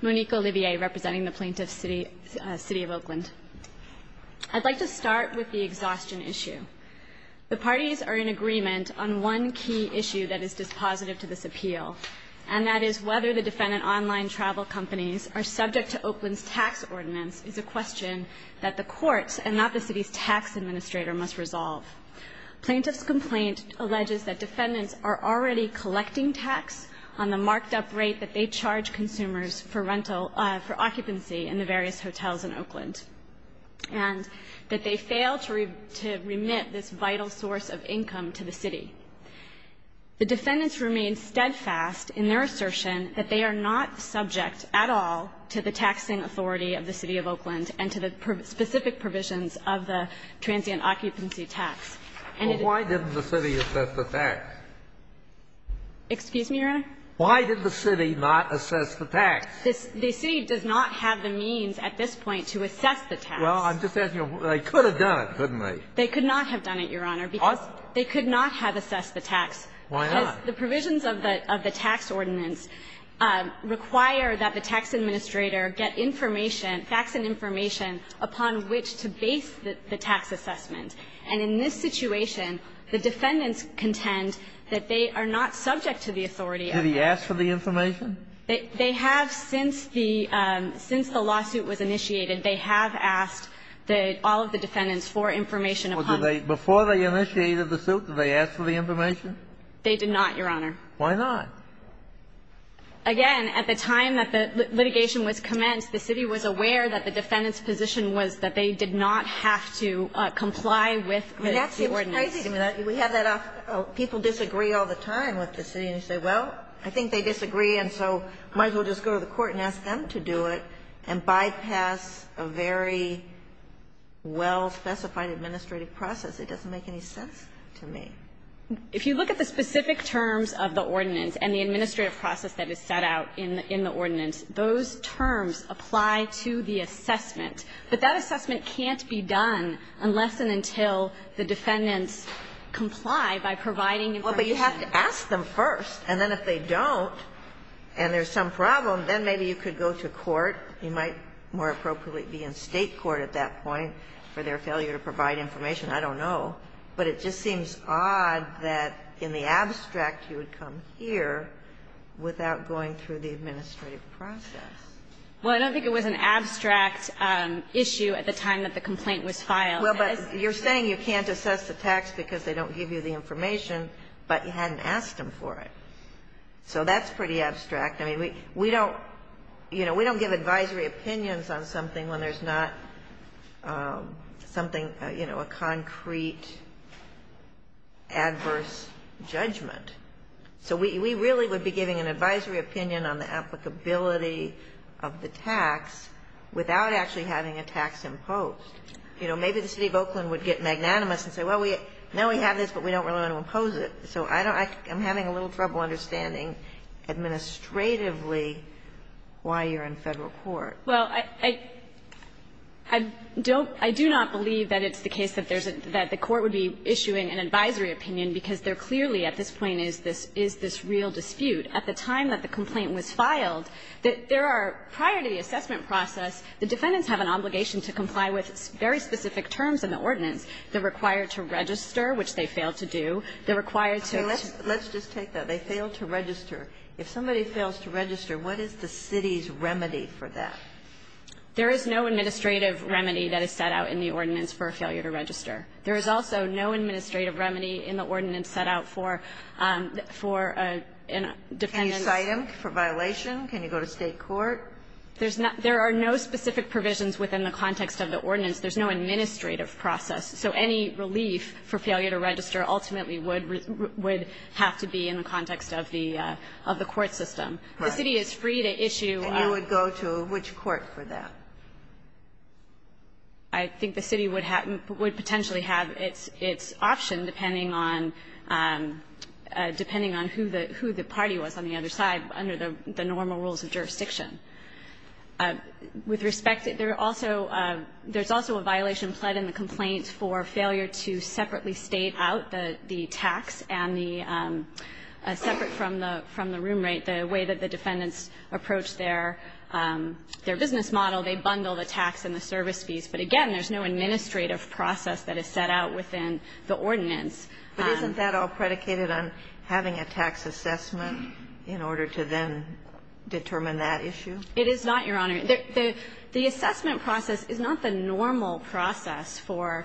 Monique Olivier representing the Plaintiff's City of Oakland. I'd like to start with the exhaustion issue. The parties are in agreement on one key issue that is dispositive to this appeal and that is whether the defendant online travel companies are subject to Oakland's tax ordinance is a question that the courts and not the city's tax administrator must resolve. Plaintiff's complaint alleges that defendants are already collecting tax on the marked-up rate that they charge consumers for occupancy in the various hotels in Oakland and that they fail to remit this vital source of income to the city. The defendants remain steadfast in their assertion that they are not subject at all to the taxing authority of the City of Oakland and to the specific provisions of the transient occupancy tax. Well, why didn't the city assess the tax? Excuse me, Your Honor? Why did the city not assess the tax? The city does not have the means at this point to assess the tax. Well, I'm just asking you, they could have done it, couldn't they? They could not have done it, Your Honor, because they could not have assessed the tax. Why not? Because the provisions of the tax ordinance require that the tax administrator get information, facts and information, upon which to base the tax assessment. And in this situation, the defendants contend that they are not subject to the authority. Did he ask for the information? They have since the lawsuit was initiated. They have asked all of the defendants for information. Before they initiated the suit, did they ask for the information? They did not, Your Honor. Why not? Again, at the time that the litigation was commenced, the city was aware that the defendant's position was that they did not have to comply with the ordinance. That seems crazy to me. We have that off. People disagree all the time with the city and say, well, I think they disagree and so might as well just go to the court and ask them to do it and bypass a very well-specified administrative process. It doesn't make any sense to me. If you look at the specific terms of the ordinance and the administrative process that is set out in the ordinance, those terms apply to the assessment. But that assessment can't be done unless and until the defendants comply by providing information. Well, but you have to ask them first. And then if they don't and there's some problem, then maybe you could go to court. You might more appropriately be in State court at that point for their failure to provide information. I don't know. But it just seems odd that in the abstract you would come here without going through the administrative process. Well, I don't think it was an abstract issue at the time that the complaint was filed. Well, but you're saying you can't assess the tax because they don't give you the information, but you hadn't asked them for it. So that's pretty abstract. I mean, we don't, you know, we don't give advisory opinions on something when there's not something, you know, a concrete adverse judgment. So we really would be giving an advisory opinion on the applicability of the tax without actually having a tax imposed. You know, maybe the City of Oakland would get magnanimous and say, well, now we have this, but we don't really want to impose it. So I'm having a little trouble understanding administratively why you're in Federal Court. Well, I don't – I do not believe that it's the case that there's a – that the court would be issuing an advisory opinion, because there clearly at this point is this real dispute. At the time that the complaint was filed, there are – prior to the assessment process, the defendants have an obligation to comply with very specific terms in the ordinance. They're required to register, which they failed to do. They're required to – Let's just take that. They failed to register. If somebody fails to register, what is the city's remedy for that? There is no administrative remedy that is set out in the ordinance for a failure to register. There is also no administrative remedy in the ordinance set out for – for a defendant's Can you cite him for violation? Can you go to State court? There's not – there are no specific provisions within the context of the ordinance. There's no administrative process. So any relief for failure to register ultimately would – would have to be in the context of the – of the court system. The city is free to issue – And you would go to which court for that? I think the city would have – would potentially have its – its option depending on – depending on who the – who the party was on the other side under the normal rules of jurisdiction. With respect, there are also – there's also a violation pled in the complaint for failure to separately state out the – the tax and the separate from the – from the room rate. The way that the defendants approach their – their business model, they bundle the tax and the service fees. But again, there's no administrative process that is set out within the ordinance. But isn't that all predicated on having a tax assessment in order to then determine that issue? It is not, Your Honor. The assessment process is not the normal process for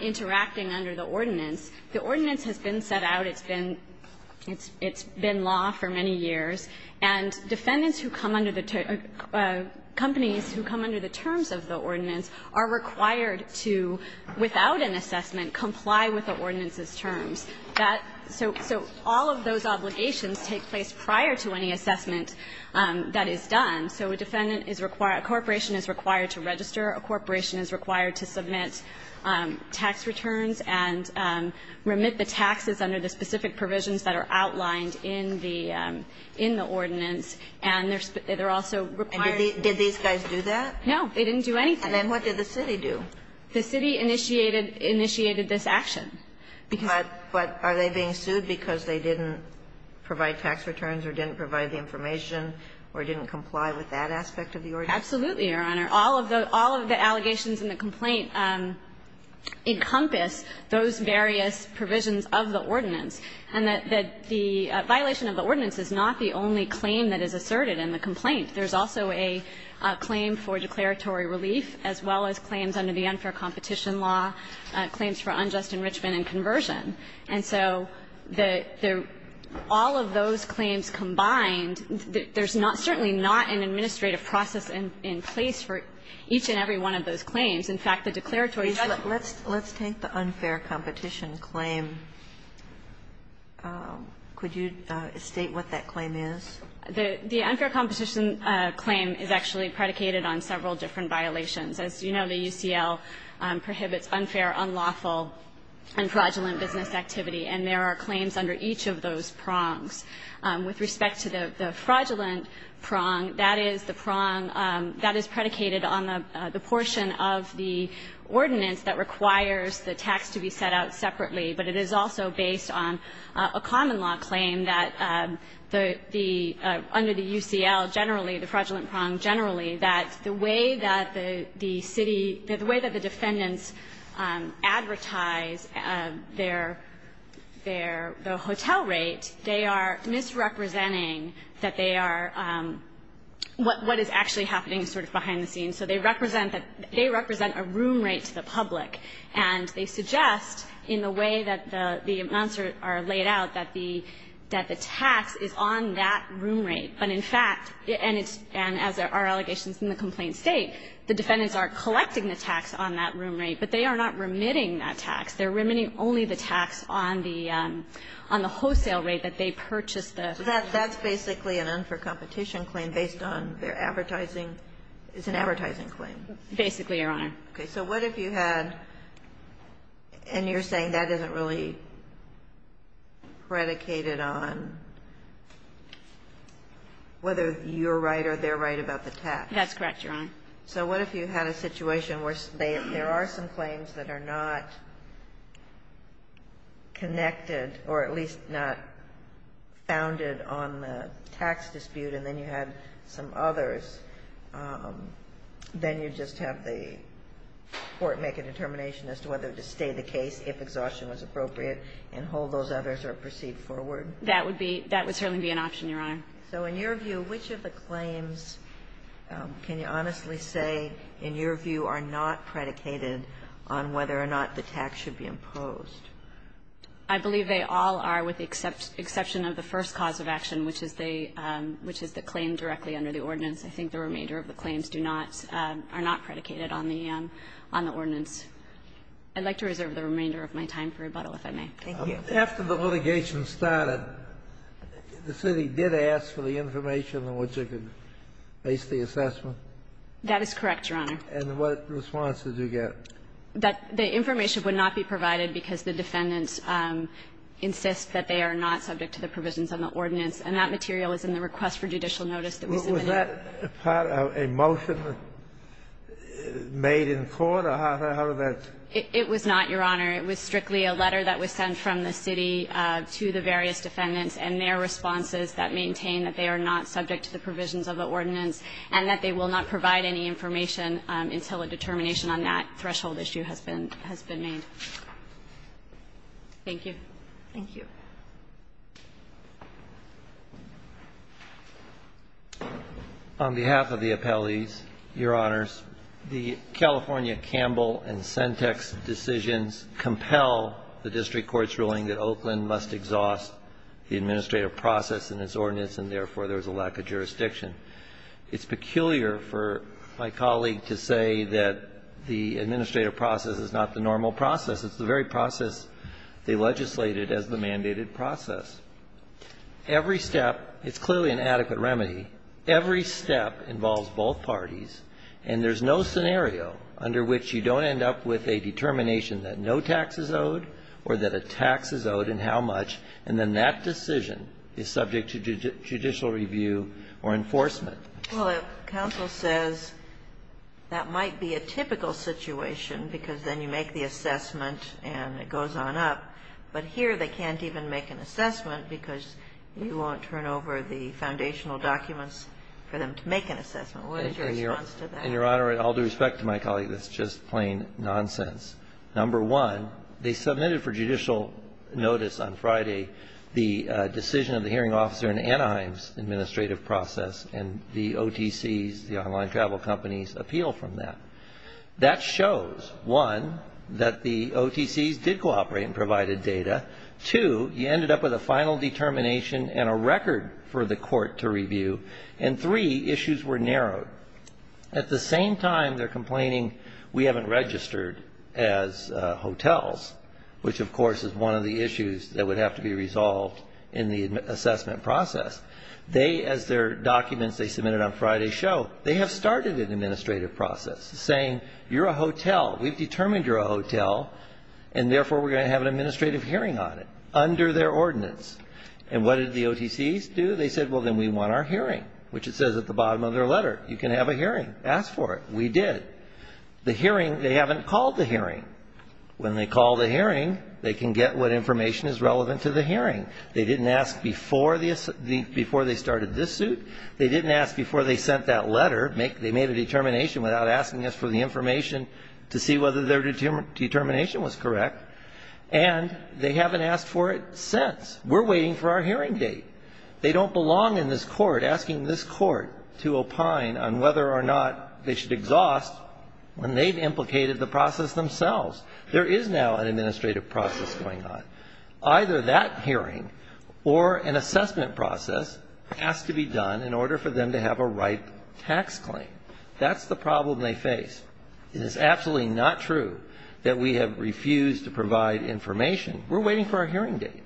interacting under the ordinance. The ordinance has been set out. It's been – it's been law for many years. And defendants who come under the – companies who come under the terms of the ordinance are required to, without an assessment, comply with the ordinance's terms. That – so all of those obligations take place prior to any assessment that is done. So a defendant is required – a corporation is required to register. A corporation is required to submit tax returns and remit the taxes under the specific provisions that are outlined in the – in the ordinance. And there's – they're also required to do that. And did these guys do that? No. They didn't do anything. And then what did the city do? The city initiated – initiated this action. But are they being sued because they didn't provide tax returns or didn't provide the information or didn't comply with that aspect of the ordinance? Absolutely, Your Honor. All of the – all of the allegations in the complaint encompass those various provisions of the ordinance. And that the violation of the ordinance is not the only claim that is asserted in the complaint. There's also a claim for declaratory relief, as well as claims under the unfair competition law, claims for unjust enrichment and conversion. And so the – all of those claims combined, there's not – certainly not an administrative process in place for each and every one of those claims. In fact, the declaratory – Let's take the unfair competition claim. Could you state what that claim is? The unfair competition claim is actually predicated on several different violations. As you know, the UCL prohibits unfair, unlawful, and fraudulent business activity. And there are claims under each of those prongs. With respect to the fraudulent prong, that is the prong that is predicated on the portion of the ordinance that requires the tax to be set out separately. But it is also based on a common law claim that the – under the UCL generally, the fraudulent prong generally, that the way that the city – that the way that the defendants advertise their – their – the hotel rate, they are misrepresenting that they are – what is actually happening sort of behind the scenes. So they represent that – they represent a room rate to the public. And they suggest in the way that the amounts are laid out that the – that the tax is on that room rate. But in fact, and it's – and as our allegations in the complaint state, the defendants are collecting the tax on that room rate, but they are not remitting that tax. They're remitting only the tax on the – on the wholesale rate that they purchased the room rate. That's basically an unfair competition claim based on their advertising – it's an advertising claim? Basically, Your Honor. Okay. So what if you had – and you're saying that isn't really predicated on? Whether you're right or they're right about the tax. That's correct, Your Honor. So what if you had a situation where there are some claims that are not connected or at least not founded on the tax dispute and then you had some others, then you just have the court make a determination as to whether to stay the case if exhaustion was appropriate and hold those others or proceed forward? That would be – that would certainly be an option, Your Honor. So in your view, which of the claims can you honestly say in your view are not predicated on whether or not the tax should be imposed? I believe they all are with the exception of the first cause of action, which is the claim directly under the ordinance. I think the remainder of the claims do not – are not predicated on the ordinance. I'd like to reserve the remainder of my time for rebuttal, if I may. Thank you. After the litigation started, the city did ask for the information on which it could base the assessment? That is correct, Your Honor. And what response did you get? That the information would not be provided because the defendants insist that they are not subject to the provisions on the ordinance, and that material is in the request for judicial notice that we submitted. Was that part of a motion made in court, or how did that? It was not, Your Honor. It was strictly a letter that was sent from the city to the various defendants and their responses that maintain that they are not subject to the provisions of the ordinance and that they will not provide any information until a determination on that threshold issue has been made. Thank you. Thank you. On behalf of the appellees, Your Honors, the California Campbell and Sentex decisions compel the district court's ruling that Oakland must exhaust the administrative process in its ordinance and, therefore, there is a lack of jurisdiction. It's peculiar for my colleague to say that the administrative process is not the normal process. It's the very process they legislated as the mandated process. Every step is clearly an adequate remedy. Every step involves both parties. And there's no scenario under which you don't end up with a determination that no tax is owed or that a tax is owed and how much, and then that decision is subject to judicial review or enforcement. Well, counsel says that might be a typical situation because then you make the assessment and it goes on up, but here they can't even make an assessment because you won't turn over the foundational documents for them to make an assessment. What is your response to that? And, Your Honor, all due respect to my colleague, that's just plain nonsense. Number one, they submitted for judicial notice on Friday the decision of the hearing officer in Anaheim's administrative process and the OTCs, the online travel companies, appeal from that. That shows, one, that the OTCs did cooperate and provided data. Two, you ended up with a final determination and a record for the court to review. And three, issues were narrowed. At the same time, they're complaining we haven't registered as hotels, which, of course, is one of the issues that would have to be resolved in the assessment process. They, as their documents they submitted on Friday show, they have started an assessment saying, you're a hotel. We've determined you're a hotel and, therefore, we're going to have an administrative hearing on it under their ordinance. And what did the OTCs do? They said, well, then we want our hearing, which it says at the bottom of their letter. You can have a hearing. Ask for it. We did. The hearing, they haven't called the hearing. When they call the hearing, they can get what information is relevant to the hearing. They didn't ask before they started this suit. They didn't ask before they sent that letter. They made a determination without asking us for the information to see whether their determination was correct. And they haven't asked for it since. We're waiting for our hearing date. They don't belong in this court asking this court to opine on whether or not they should exhaust when they've implicated the process themselves. There is now an administrative process going on. Either that hearing or an assessment process has to be done in order for them to have a right tax claim. That's the problem they face. It is absolutely not true that we have refused to provide information. We're waiting for our hearing date.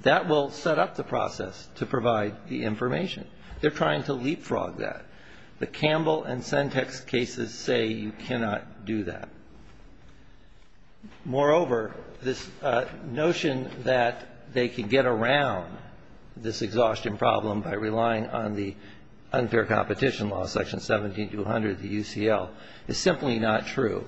That will set up the process to provide the information. They're trying to leapfrog that. The Campbell and Sentex cases say you cannot do that. Moreover, this notion that they can get around this exhaustion problem by relying on the unfair competition law, section 17200 of the UCL, is simply not true.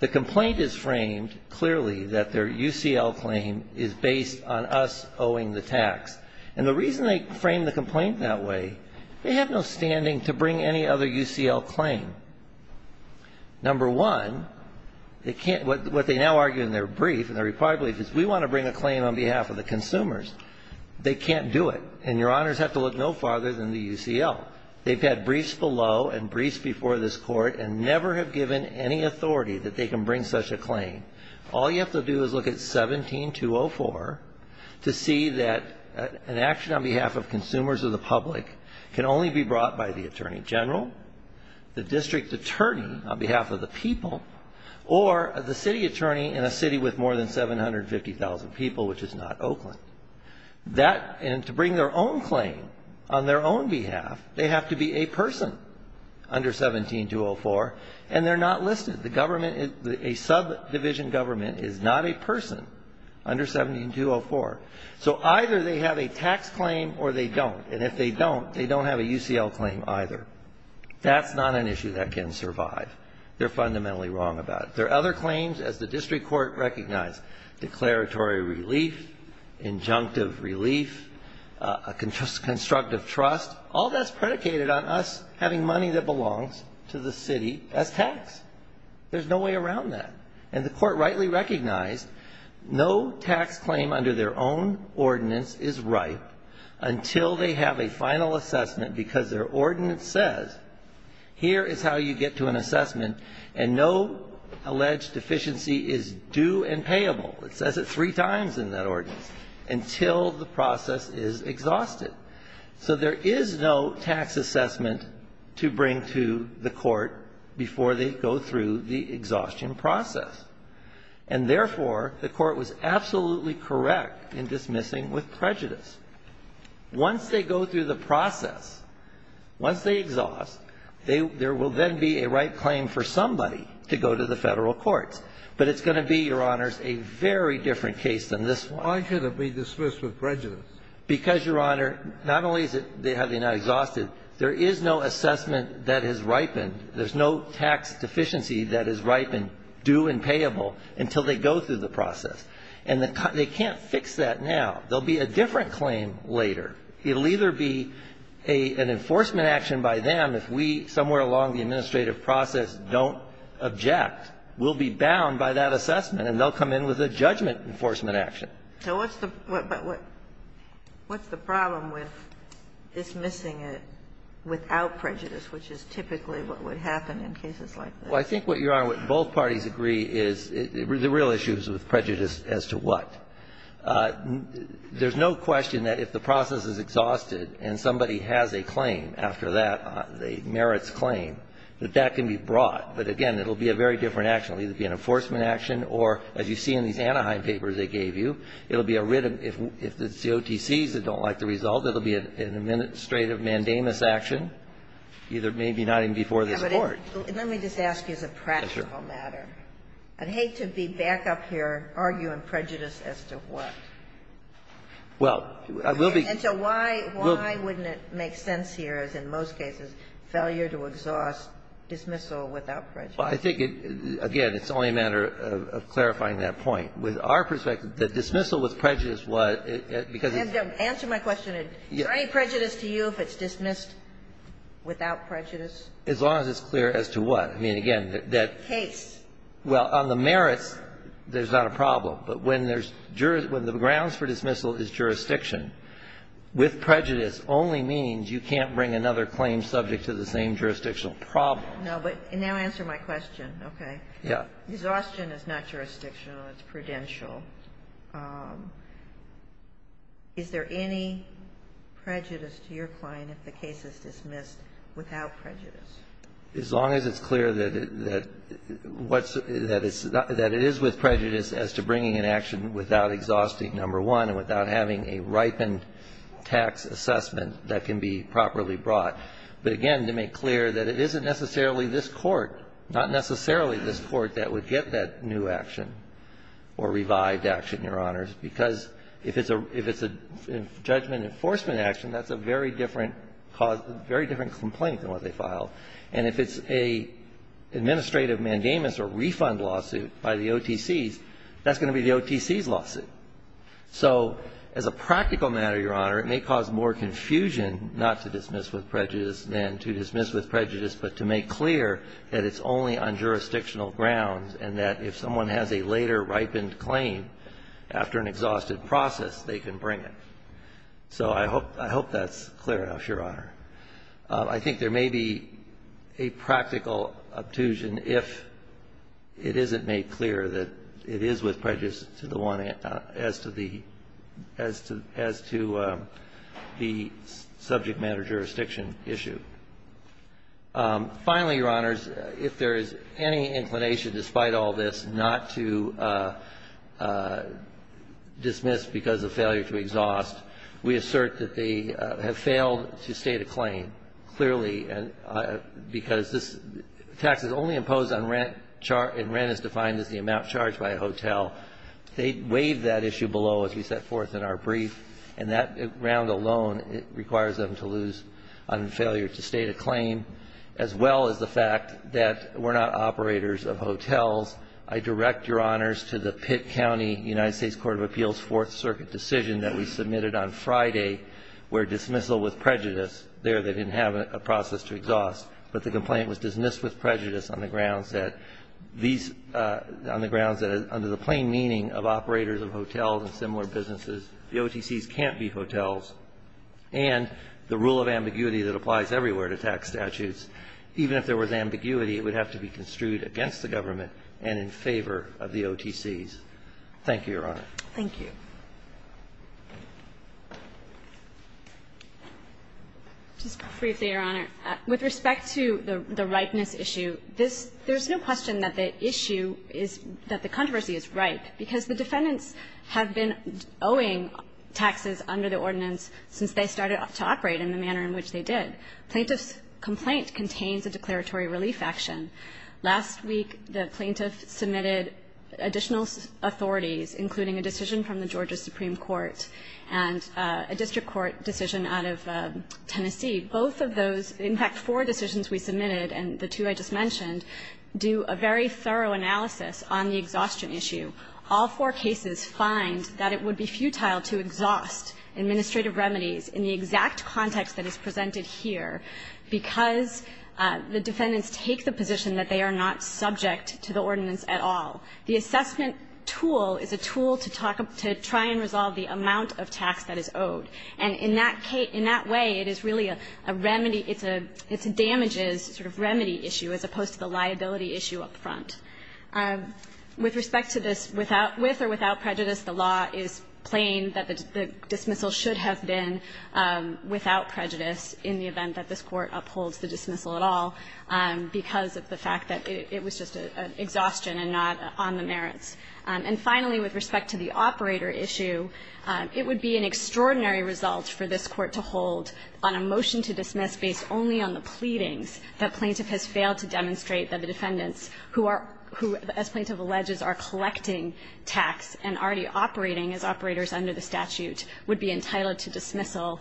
The complaint is framed clearly that their UCL claim is based on us owing the tax. And the reason they frame the complaint that way, they have no standing to bring any other UCL claim. Number one, what they now argue in their brief and their reply brief is we want to bring a claim on behalf of the consumers. They can't do it. And Your Honors have to look no farther than the UCL. They've had briefs below and briefs before this court and never have given any authority that they can bring such a claim. All you have to do is look at 17204 to see that an action on behalf of consumers or the public can only be brought by the Attorney General. The district attorney on behalf of the people or the city attorney in a city with more than 750,000 people, which is not Oakland. And to bring their own claim on their own behalf, they have to be a person under 17204. And they're not listed. A subdivision government is not a person under 17204. So either they have a tax claim or they don't. And if they don't, they don't have a UCL claim either. That's not an issue that can survive. They're fundamentally wrong about it. There are other claims, as the district court recognized, declaratory relief, injunctive relief, a constructive trust. All that's predicated on us having money that belongs to the city as tax. There's no way around that. And the court rightly recognized no tax claim under their own ordinance is ripe until they have a final assessment because their ordinance says here is how you get to an assessment and no alleged deficiency is due and payable. It says it three times in that ordinance, until the process is exhausted. So there is no tax assessment to bring to the court before they go through the exhaustion process. And, therefore, the court was absolutely correct in dismissing with prejudice. Once they go through the process, once they exhaust, there will then be a right claim for somebody to go to the Federal courts. But it's going to be, Your Honors, a very different case than this one. So why should it be dismissed with prejudice? Because, Your Honor, not only is it they have it now exhausted, there is no assessment that has ripened, there's no tax deficiency that has ripened due and payable until they go through the process. And they can't fix that now. There will be a different claim later. It will either be an enforcement action by them if we somewhere along the administrative process don't object, we'll be bound by that assessment, and they'll come in with a judgment enforcement action. So what's the problem with dismissing it without prejudice, which is typically what would happen in cases like this? Well, I think what, Your Honor, what both parties agree is the real issue is with prejudice as to what. There's no question that if the process is exhausted and somebody has a claim after that, a merits claim, that that can be brought. But, again, it will be a very different action. It will either be an enforcement action or, as you see in these Anaheim papers they gave you, it will be a written, if the COTCs don't like the result, it will be an administrative mandamus action, either maybe not even before this Court. Let me just ask you as a practical matter. Sure. I'd hate to be back up here arguing prejudice as to what. Well, I will be. And so why wouldn't it make sense here, as in most cases, failure to exhaust dismissal without prejudice? Well, I think, again, it's only a matter of clarifying that point. With our perspective, the dismissal with prejudice, what, because it's. Answer my question. Is there any prejudice to you if it's dismissed without prejudice? As long as it's clear as to what. I mean, again, that. Case. Well, on the merits, there's not a problem. But when there's, when the grounds for dismissal is jurisdiction, with prejudice only means you can't bring another claim subject to the same jurisdictional problem. No, but now answer my question, okay? Yeah. Exhaustion is not jurisdictional. It's prudential. Is there any prejudice to your client if the case is dismissed without prejudice? As long as it's clear that what's, that it's, that it is with prejudice as to bringing an action without exhausting number one and without having a ripened tax assessment that can be properly brought. But, again, to make clear that it isn't necessarily this Court, not necessarily this Court that would get that new action or revived action, Your Honors, because if it's a judgment enforcement action, that's a very different cause, very different complaint than what they filed. And if it's an administrative mandamus or refund lawsuit by the OTCs, that's going to be the OTC's lawsuit. So as a practical matter, Your Honor, it may cause more confusion not to dismiss with prejudice than to dismiss with prejudice, but to make clear that it's only on jurisdictional grounds and that if someone has a later ripened claim after an exhausted process, they can bring it. So I hope, I hope that's clear enough, Your Honor. I think there may be a practical obtusion if it isn't made clear that it is with prejudice to the one as to the, as to, as to the subject matter jurisdiction issue. Finally, Your Honors, if there is any inclination, despite all this, not to dismiss because of failure to exhaust, we assert that they have failed to state a claim. Clearly, because this tax is only imposed on rent, and rent is defined as the amount charged by a hotel. They waived that issue below as we set forth in our brief, and that round alone requires them to lose on failure to state a claim, as well as the fact that we're not operators of hotels. I direct Your Honors to the Pitt County United States Court of Appeals Fourth Circuit decision that we submitted on Friday, where dismissal with prejudice there, they didn't have a process to exhaust, but the complaint was dismissed with prejudice on the grounds that these, on the grounds that under the plain meaning of operators of hotels and similar businesses, the OTCs can't be hotels. And the rule of ambiguity that applies everywhere to tax statutes, even if there was ambiguity, it would have to be construed against the government and in favor of the OTCs. Thank you, Your Honor. Thank you. Just briefly, Your Honor. With respect to the ripeness issue, this – there's no question that the issue is – that the controversy is ripe, because the defendants have been owing taxes under the ordinance since they started to operate in the manner in which they did. Plaintiff's complaint contains a declaratory relief action. Last week, the plaintiff submitted additional authorities, including a decision from the Georgia Supreme Court and a district court decision out of Tennessee. Both of those – in fact, four decisions we submitted, and the two I just mentioned, do a very thorough analysis on the exhaustion issue. All four cases find that it would be futile to exhaust administrative remedies in the exact context that is presented here, because the defendants take the position that they are not subject to the ordinance at all. The assessment tool is a tool to talk – to try and resolve the amount of tax that is owed. And in that way, it is really a remedy – it's a damages sort of remedy issue as opposed to the liability issue up front. With respect to this, without – with or without prejudice, the law is plain that the dismissal should have been without prejudice in the event that this Court upholds the dismissal at all because of the fact that it was just an exhaustion and not on the merits. And finally, with respect to the operator issue, it would be an extraordinary result for this Court to hold on a motion to dismiss based only on the pleadings that plaintiff has failed to demonstrate that the defendants who are – who, as plaintiff alleges, are collecting tax and already operating as operators under the statute would be entitled to dismissal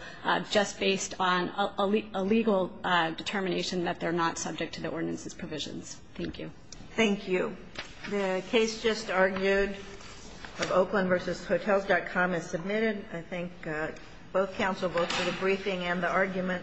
just based on a legal determination that they're not subject to the ordinance's provisions. Thank you. Thank you. The case just argued of Oakland v. Hotels.com is submitted. I thank both counsel, both for the briefing and the argument.